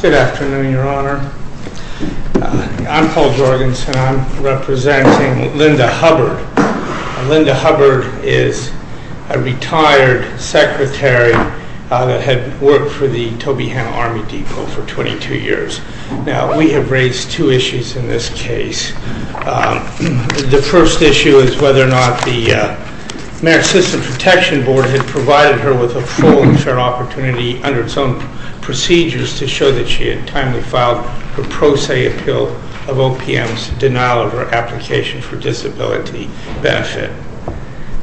Good afternoon, Your Honor. I'm Paul Jorgensen. I'm representing Linda Hubbard. Linda Hubbard is a retired secretary that had worked for the Tobyhanna Army Depot for 22 years. Now, we have raised two issues in this case. The first issue is whether or not the opportunity under its own procedures to show that she had timely filed her pro se appeal of OPM's denial of her application for disability benefit.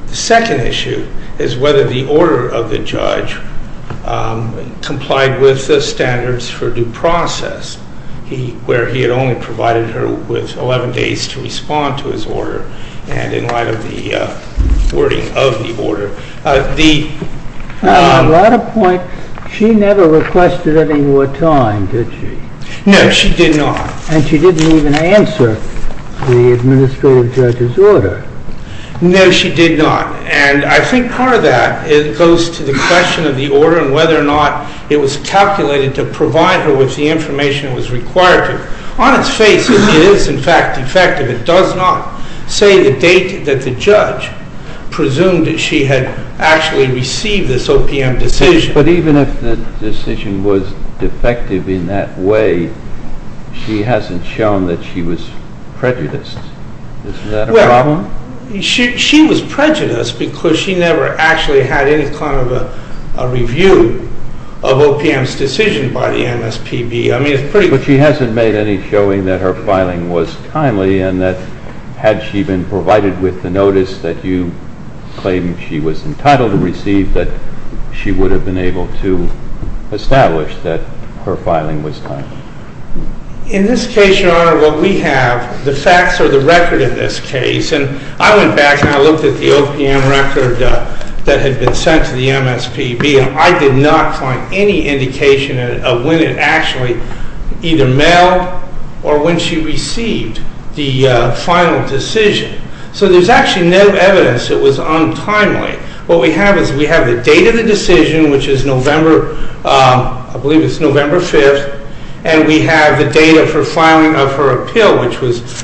The second issue is whether the order of the judge complied with the standards for due process, where he had only provided her with 11 days to respond to his order and in light of the wording of the order. At a point, she never requested any more time, did she? No, she did not. And she didn't even answer the administrative judge's order. No, she did not. And I think part of that goes to the question of the order and whether or not it was calculated to provide her with the information it was required to. On its face, it is in fact defective. It does not say the date that the judge presumed that she had actually received this OPM decision. But even if the decision was defective in that way, she hasn't shown that she was prejudiced. Isn't that a problem? She was prejudiced because she never actually had any kind of a review of OPM's decision by the MSPB. But she hasn't made any showing that her filing was timely and that had she been provided with the notice that you claim she was entitled to receive, that she would have been able to establish that her filing was timely. In this case, Your Honor, what we have, the facts are the record in this case. And I went back and I looked at the OPM record that had been sent to the MSPB and I did not find any indication of when it actually either mailed or when she received the final decision. So there's actually no evidence it was untimely. What we have is we have the date of the decision, which is November, I believe it's November 5th, and we have the date of her filing of her appeal, which was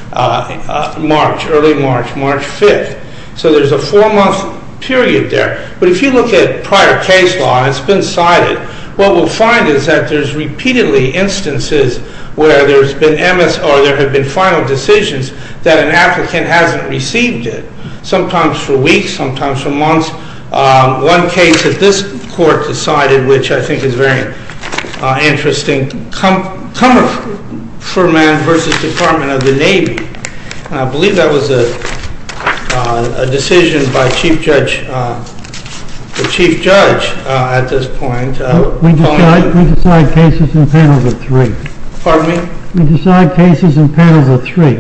March, early March, March 5th. So there's a four-month period there. But if you look at prior case law, it's been cited, what we'll find is that there's repeatedly instances where there's been MS or there have been final decisions that an applicant hasn't received it, sometimes for weeks, sometimes for months. One case that this court decided, which I think is very interesting, Cummerford versus Department of the Navy. I believe that was a decision by the Chief Judge at this point. We decide cases in panels of three. Pardon me? We decide cases in panels of three.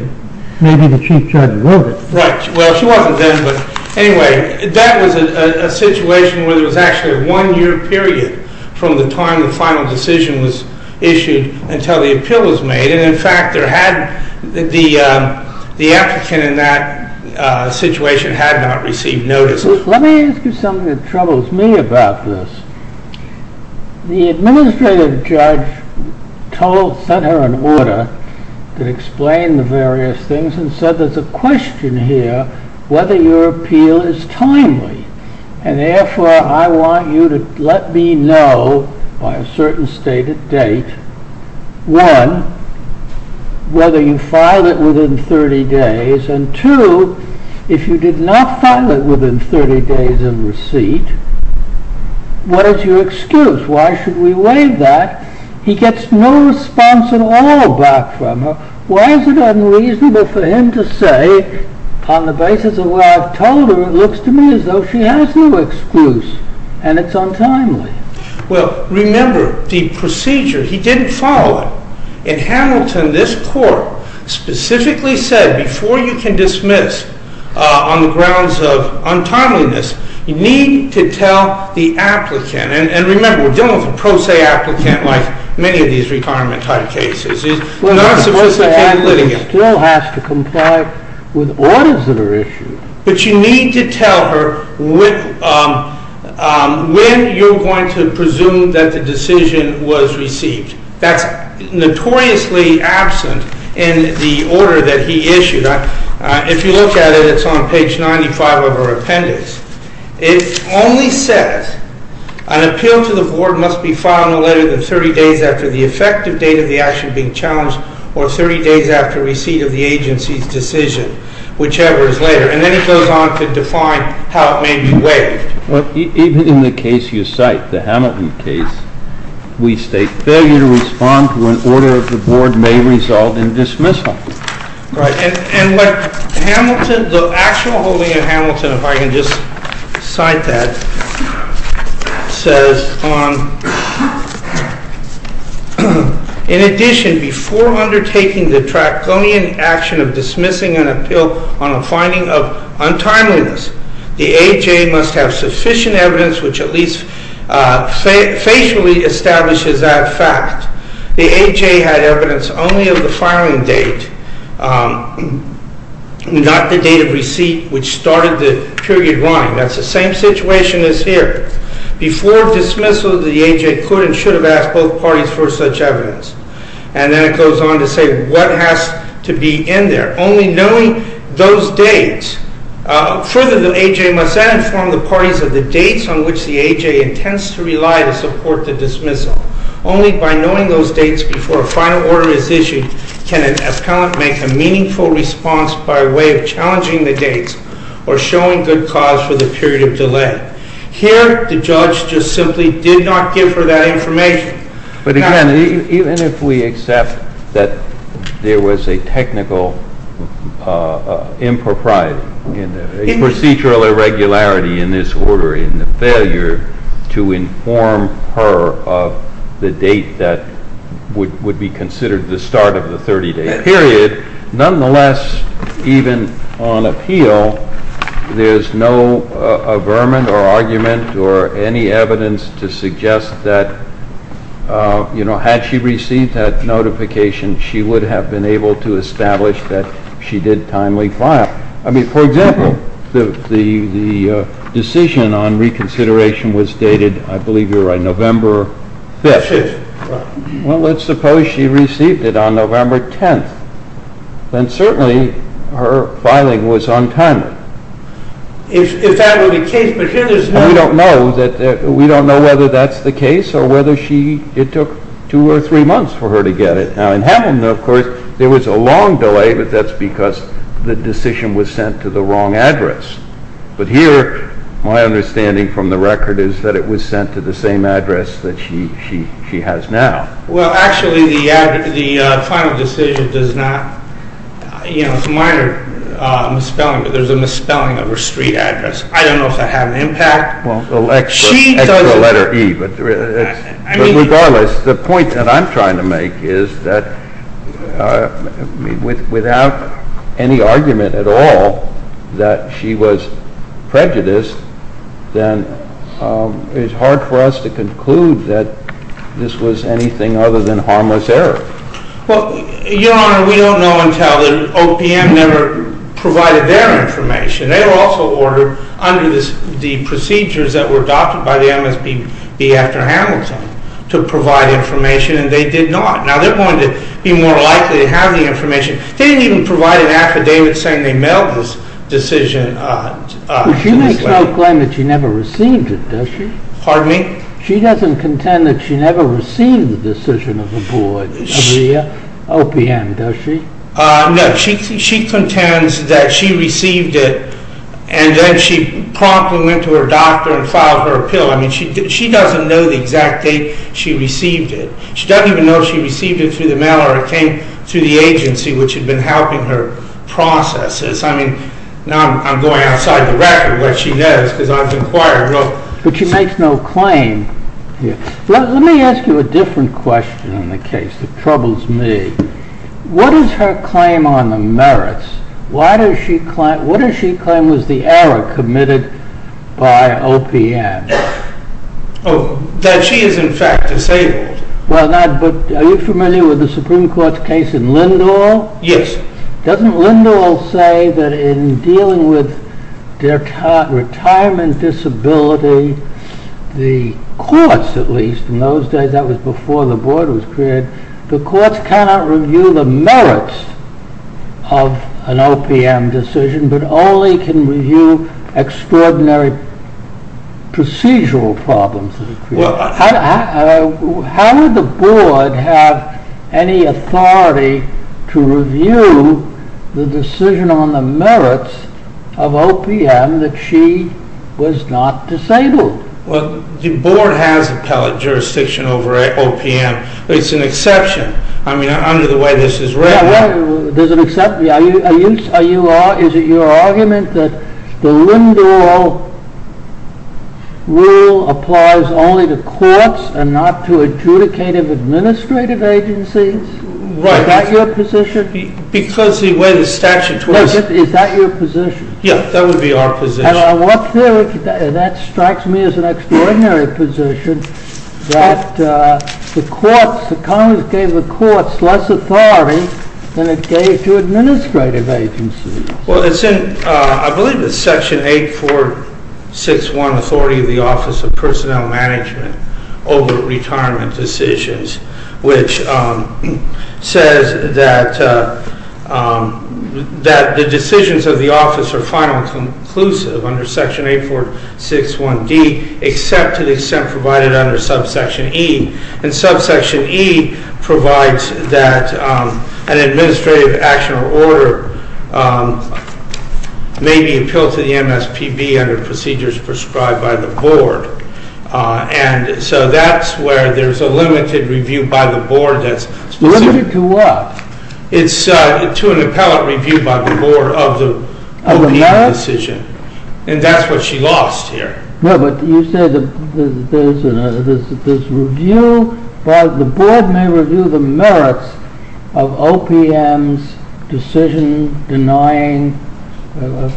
Maybe the Chief Judge wrote it. Right. Well, she wasn't then, but anyway, that was a situation where there was actually a one-year period from the time the final decision was issued until the appeal was made. And in fact, the applicant in that situation had not received notice. Let me ask you something that troubles me about this. The Administrative Judge sent her an order to explain the various things and said, there's a question here whether your appeal is timely. And therefore, I want you to let me know by a certain stated date. One, whether you filed it within 30 days. And two, if you did not file it within 30 days in receipt, what is your excuse? Why should we waive that? He gets no response at all back from her. Why is it unreasonable for him to say, on the basis of what I've told her, it looks to me as though she has no excuse and it's untimely? Well, remember, the procedure, he didn't follow it. In Hamilton, this court specifically said, before you can dismiss on the grounds of untimeliness, you need to tell the applicant. And remember, we're dealing with a pro se applicant like many of these retirement-type cases. He's not a sophisticated litigant. Well, a pro se applicant still has to comply with orders that are issued. But you need to tell her when you're going to presume that the decision was received. That's notoriously absent in the order that he issued. If you look at it, it's on page 95 of our appendix. It only says, an appeal to the board must be filed no later than 30 days after the effective date of the action being challenged or 30 days after receipt of the agency's decision, whichever is later. And then it goes on to define how it may be waived. Even in the case you cite, the Hamilton case, we state failure to respond to an order of the board may result in dismissal. And what the actual holding of Hamilton, if I can just cite that, says, in addition, before undertaking the draconian action of dismissing an appeal on a finding of untimeliness, the AJ must have sufficient evidence which at least facially establishes that fact. The AJ had evidence only of the filing date, not the date of receipt which started the period line. That's the same situation as here. Before dismissal, the AJ could and should have asked both parties for such evidence. And then it goes on to say what has to be in there. Only knowing those dates, further the AJ must then inform the parties of the dates on which the AJ intends to rely to support the dismissal. Only by knowing those dates before a final order is issued can an appellant make a meaningful response by way of challenging the dates or showing good cause for the period of delay. Here, the judge just simply did not give her that information. But again, even if we accept that there was a technical impropriety, a procedural irregularity in this order, in the failure to inform her of the date that would be considered the start of the 30-day period, nonetheless, even on appeal, there's no averment or argument or any evidence to suggest that had she received that notification, she would have been able to establish that she did timely file. I mean, for example, the decision on reconsideration was dated, I believe you're right, November 5th. Well, let's suppose she received it on November 10th. Then certainly her filing was on time. We don't know whether that's the case or whether it took two or three months for her to get it. Now in Hamilton, of course, there was a long delay, but that's because the decision was sent to the wrong address. But here, my understanding from the record is that it was sent to the same address that she has now. Well, actually, the final decision does not, you know, it's a minor misspelling, but there's a misspelling of her street address. I don't know if that had an impact. But regardless, the point that I'm trying to make is that without any argument at all that she was prejudiced, then it's hard for us to conclude that this was anything other than harmless error. Well, Your Honor, we don't know until the OPM never provided their information. They were also ordered under the procedures that were adopted by the MSPB after Hamilton to provide information, and they did not. Now, they're going to be more likely to have the information. They didn't even provide an affidavit saying they mailed this decision. But she makes no claim that she never received it, does she? Pardon me? She doesn't contend that she never received the decision of the board of OPM, does she? No. She contends that she received it, and then she promptly went to her doctor and filed her appeal. I mean, she doesn't know the exact date she received it. She doesn't even know if she received it through the mail or it came through the agency, which had been helping her process this. I mean, now I'm going outside the record where she knows, because I've inquired. But she makes no claim. Let me ask you a different question on the case that troubles me. What is her claim on the merits? What does she claim was the error committed by OPM? That she is in fact disabled. Are you familiar with the Supreme Court's case in Lindahl? Yes. Doesn't Lindahl say that in dealing with retirement disability, the courts at least, in those days, that was before the board was created, the courts cannot review the merits of an OPM decision, but only can review extraordinary procedural problems. How would the board have any authority to review the decision on the merits of OPM that she was not disabled? Well, the board has appellate jurisdiction over OPM. It's an exception. I mean, under the way this is written. Yeah, right. There's an exception. Is it your argument that the Lindahl rule applies only to courts and not to adjudicative administrative agencies? Right. Is that your position? Because the way the statute was. Is that your position? Yeah, that would be our position. And that strikes me as an extraordinary position that the courts, the Congress gave the courts less authority than it gave to administrative agencies. Well, it's in, I believe it's Section 8461, Authority of the Office of Personnel Management over Retirement Decisions, which says that the decisions of the office are final and conclusive under Section 8461D, except to the extent provided under Subsection E. And Subsection E provides that an administrative action or order may be appealed to the MSPB under procedures prescribed by the board. And so that's where there's a limited review by the board that's specific. Limited to what? It's to an appellate review by the board of the OPM decision. Of the merits? And that's what she lost here. No, but you said this review by the board may review the merits of OPM's decision denying a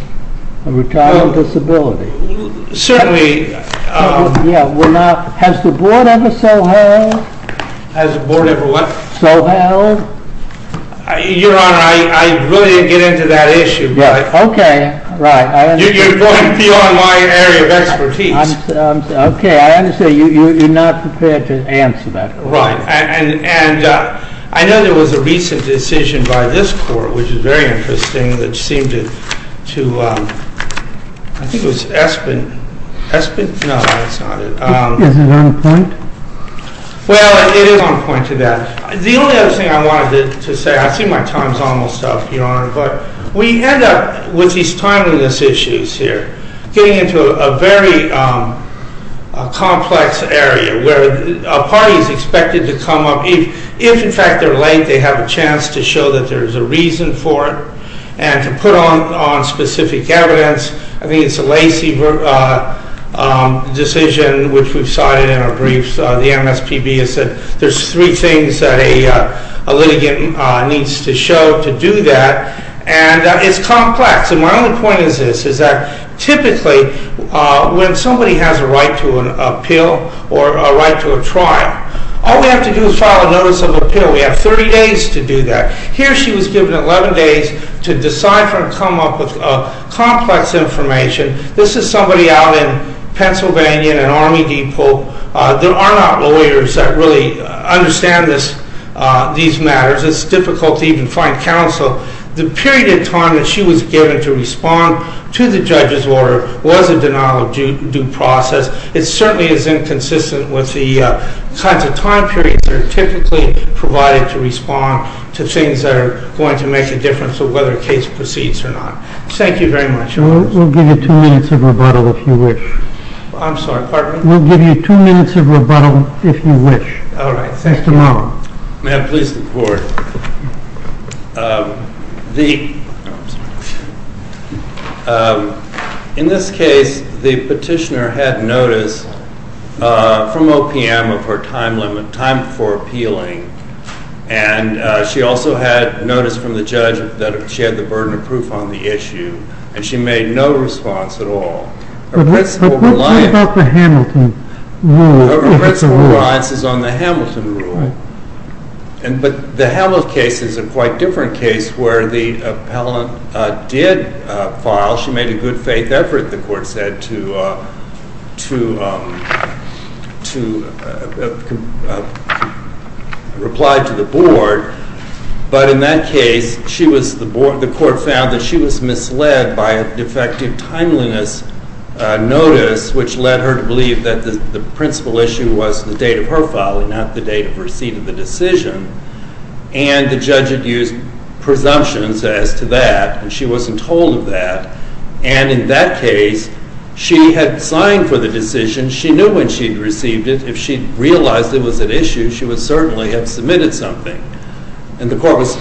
retirement disability. Certainly. Has the board ever so held? Has the board ever what? So held? Your Honor, I really didn't get into that issue. Okay, right. You're going beyond my area of expertise. Okay, I understand. You're not prepared to answer that question. Right. And I know there was a recent decision by this court, which is very interesting, which seemed to, I think it was Espin. Espin? No, that's not it. Is it on point? Well, it is on point to that. The only other thing I wanted to say, I see my time's almost up, Your Honor, but we end up with these timeliness issues here. Getting into a very complex area where a party is expected to come up, if in fact they're late, they have a chance to show that there's a reason for it. And to put on specific evidence. I think it's a Lacey decision, which we've cited in our briefs. The MSPB has said there's three things that a litigant needs to show to do that. And it's complex. And my only point is this, is that typically when somebody has a right to an appeal or a right to a trial, all we have to do is file a notice of appeal. We have 30 days to do that. Here she was given 11 days to decide or come up with complex information. This is somebody out in Pennsylvania in an Army depot. There are not lawyers that really understand these matters. It's difficult to even find counsel. The period of time that she was given to respond to the judge's order was a denial of due process. It certainly is inconsistent with the kinds of time periods that are typically provided to respond to things that are going to make a difference of whether a case proceeds or not. Thank you very much. We'll give you two minutes of rebuttal if you wish. I'm sorry, pardon me? We'll give you two minutes of rebuttal if you wish. All right, thank you. Mr. Mullen. May I please report? In this case, the petitioner had notice from OPM of her time before appealing. She also had notice from the judge that she had the burden of proof on the issue. She made no response at all. What about the Hamilton rule? Her principal reliance is on the Hamilton rule. The Hamilton case is a quite different case where the appellant did file. She made a good faith effort, the court said, to reply to the board. But in that case, the court found that she was misled by a defective timeliness notice, which led her to believe that the principal issue was the date of her filing, not the date of receipt of the decision. And the judge had used presumptions as to that. And she wasn't told of that. And in that case, she had signed for the decision. She knew when she had received it. If she realized it was an issue, she would certainly have submitted something. And the court was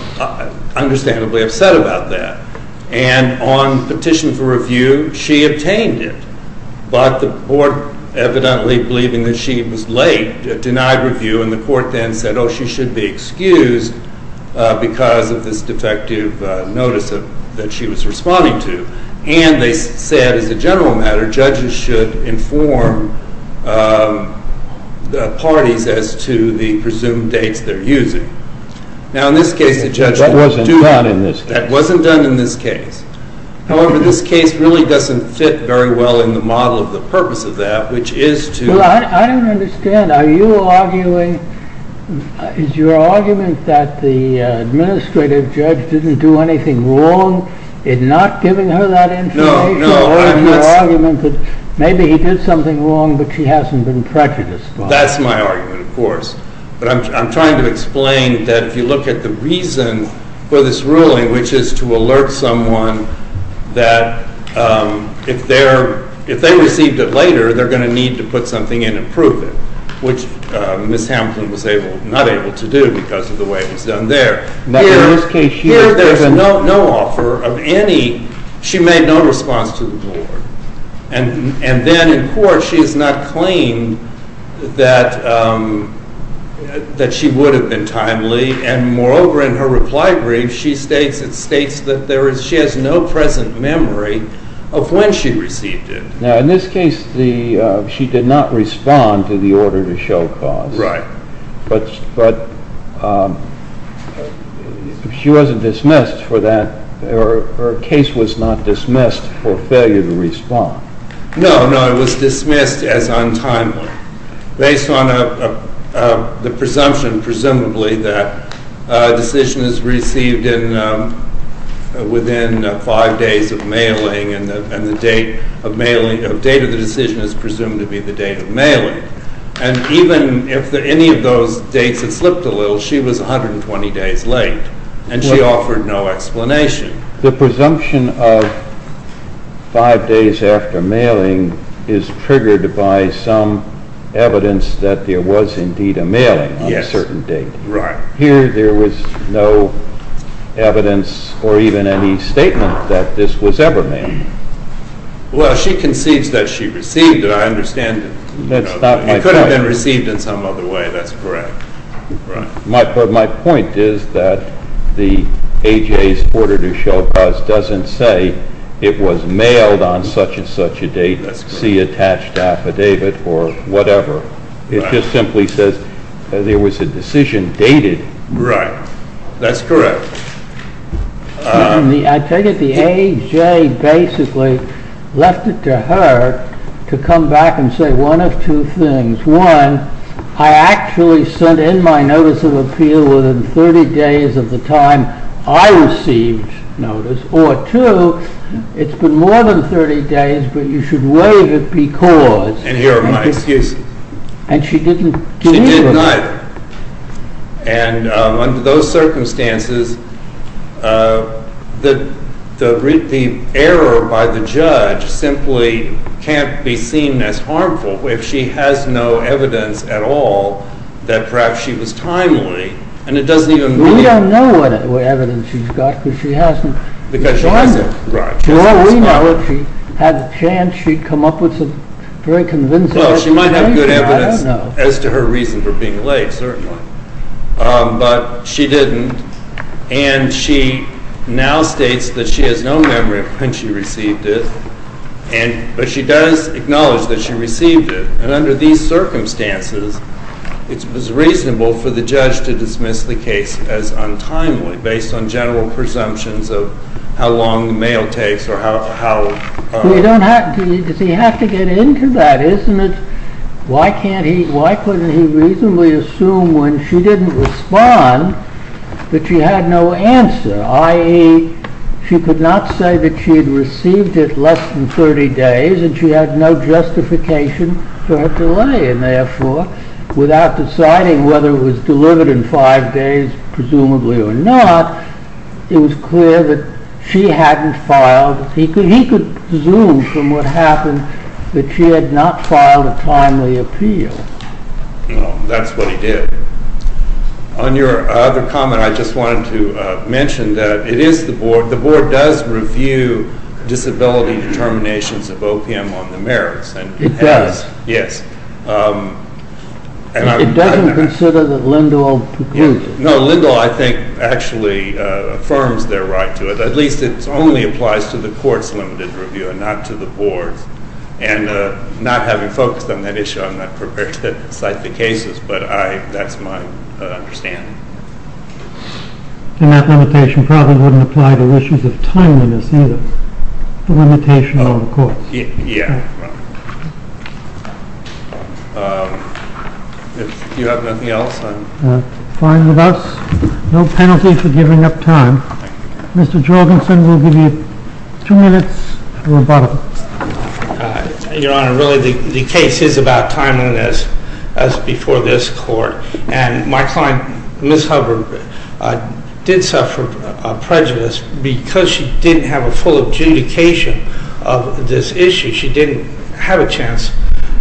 understandably upset about that. And on petition for review, she obtained it. But the board, evidently believing that she was late, denied review. And the court then said, oh, she should be excused because of this defective notice that she was responding to. And they said, as a general matter, judges should inform the parties as to the presumed dates they're using. Now, in this case, the judge would do that. That wasn't done in this case. That wasn't done in this case. However, this case really doesn't fit very well in the model of the purpose of that, which is to— Is your argument that the administrative judge didn't do anything wrong in not giving her that information? No, no. Or is your argument that maybe he did something wrong, but she hasn't been prejudiced by it? That's my argument, of course. But I'm trying to explain that if you look at the reason for this ruling, which is to alert someone that if they received it later, they're going to need to put something in and prove it, which Ms. Hampton was not able to do because of the way it was done there. Now, in this case— Here, there's no offer of any—she made no response to the board. And then, in court, she is not claimed that she would have been timely. And moreover, in her reply brief, it states that she has no present memory of when she received it. Now, in this case, she did not respond to the order to show cause. Right. But she wasn't dismissed for that—her case was not dismissed for failure to respond. No, no, it was dismissed as untimely, based on the presumption, presumably, that a decision is received within five days of mailing, and the date of the decision is presumed to be the date of mailing. And even if any of those dates had slipped a little, she was 120 days late, and she offered no explanation. The presumption of five days after mailing is triggered by some evidence that there was indeed a mailing on a certain date. Right. Here, there was no evidence, or even any statement, that this was ever mailed. Well, she concedes that she received it, I understand. That's not my point. It could have been received in some other way, that's correct. My point is that the AJA's order to show cause doesn't say it was mailed on such and such a date, see attached affidavit, or whatever. It just simply says there was a decision dated. Right, that's correct. I take it the AJA basically left it to her to come back and say one of two things. One, I actually sent in my notice of appeal within 30 days of the time I received notice, or two, it's been more than 30 days, but you should waive it because— And here are my excuses. And she didn't— She didn't either. And under those circumstances, the error by the judge simply can't be seen as harmful. If she has no evidence at all that perhaps she was timely, and it doesn't even mean— We don't know what evidence she's got because she hasn't— Because she hasn't, right. If she had the chance, she'd come up with some very convincing evidence. Well, she might have good evidence as to her reason for being late, certainly. But she didn't, and she now states that she has no memory of when she received it, but she does acknowledge that she received it. And under these circumstances, it was reasonable for the judge to dismiss the case as untimely based on general presumptions of how long the mail takes or how— Does he have to get into that? Why couldn't he reasonably assume when she didn't respond that she had no answer, i.e., she could not say that she had received it less than 30 days, and she had no justification for her delay, without deciding whether it was delivered in five days, presumably, or not, it was clear that she hadn't filed— He could assume from what happened that she had not filed a timely appeal. That's what he did. On your other comment, I just wanted to mention that the board does review disability determinations of OPM on the merits. It does? Yes. It doesn't consider that Lindahl concludes it? No, Lindahl, I think, actually affirms their right to it. At least it only applies to the court's limited review and not to the board's. And not having focused on that issue, I'm not prepared to cite the cases, but that's my understanding. And that limitation probably wouldn't apply to issues of timeliness either. The limitation on the courts. Yeah. Do you have nothing else? Fine with us. No penalty for giving up time. Mr. Jorgensen, we'll give you two minutes for rebuttal. Your Honor, really the case is about timeliness as before this court. And my client, Ms. Hubbard, did suffer prejudice because she didn't have a full adjudication of this issue. She didn't have a chance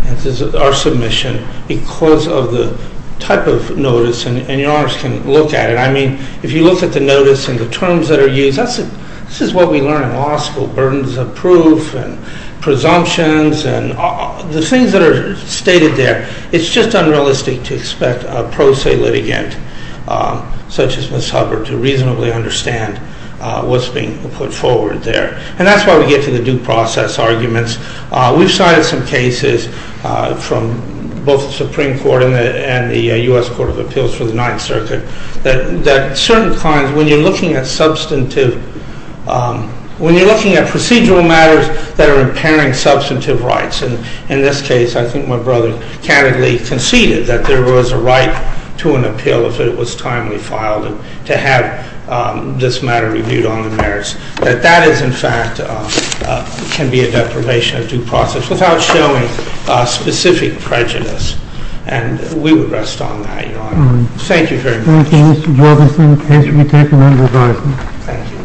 in our submission because of the type of notice. And Your Honors can look at it. I mean, if you look at the notice and the terms that are used, this is what we learn in law school. Burdens of proof and presumptions and the things that are stated there. It's just unrealistic to expect a pro se litigant such as Ms. Hubbard to reasonably understand what's being put forward there. And that's why we get to the due process arguments. We've cited some cases from both the Supreme Court and the U.S. Court of Appeals for the Ninth Circuit. That certain clients, when you're looking at substantive, when you're looking at procedural matters that are impairing substantive rights. And in this case, I think my brother candidly conceded that there was a right to an appeal if it was timely filed. And to have this matter reviewed on the merits. That that is in fact can be a deprivation of due process without showing specific prejudice. And we would rest on that, Your Honor. Thank you very much. Thank you, Mr. Jorgensen. The case will be taken under revising. Thank you.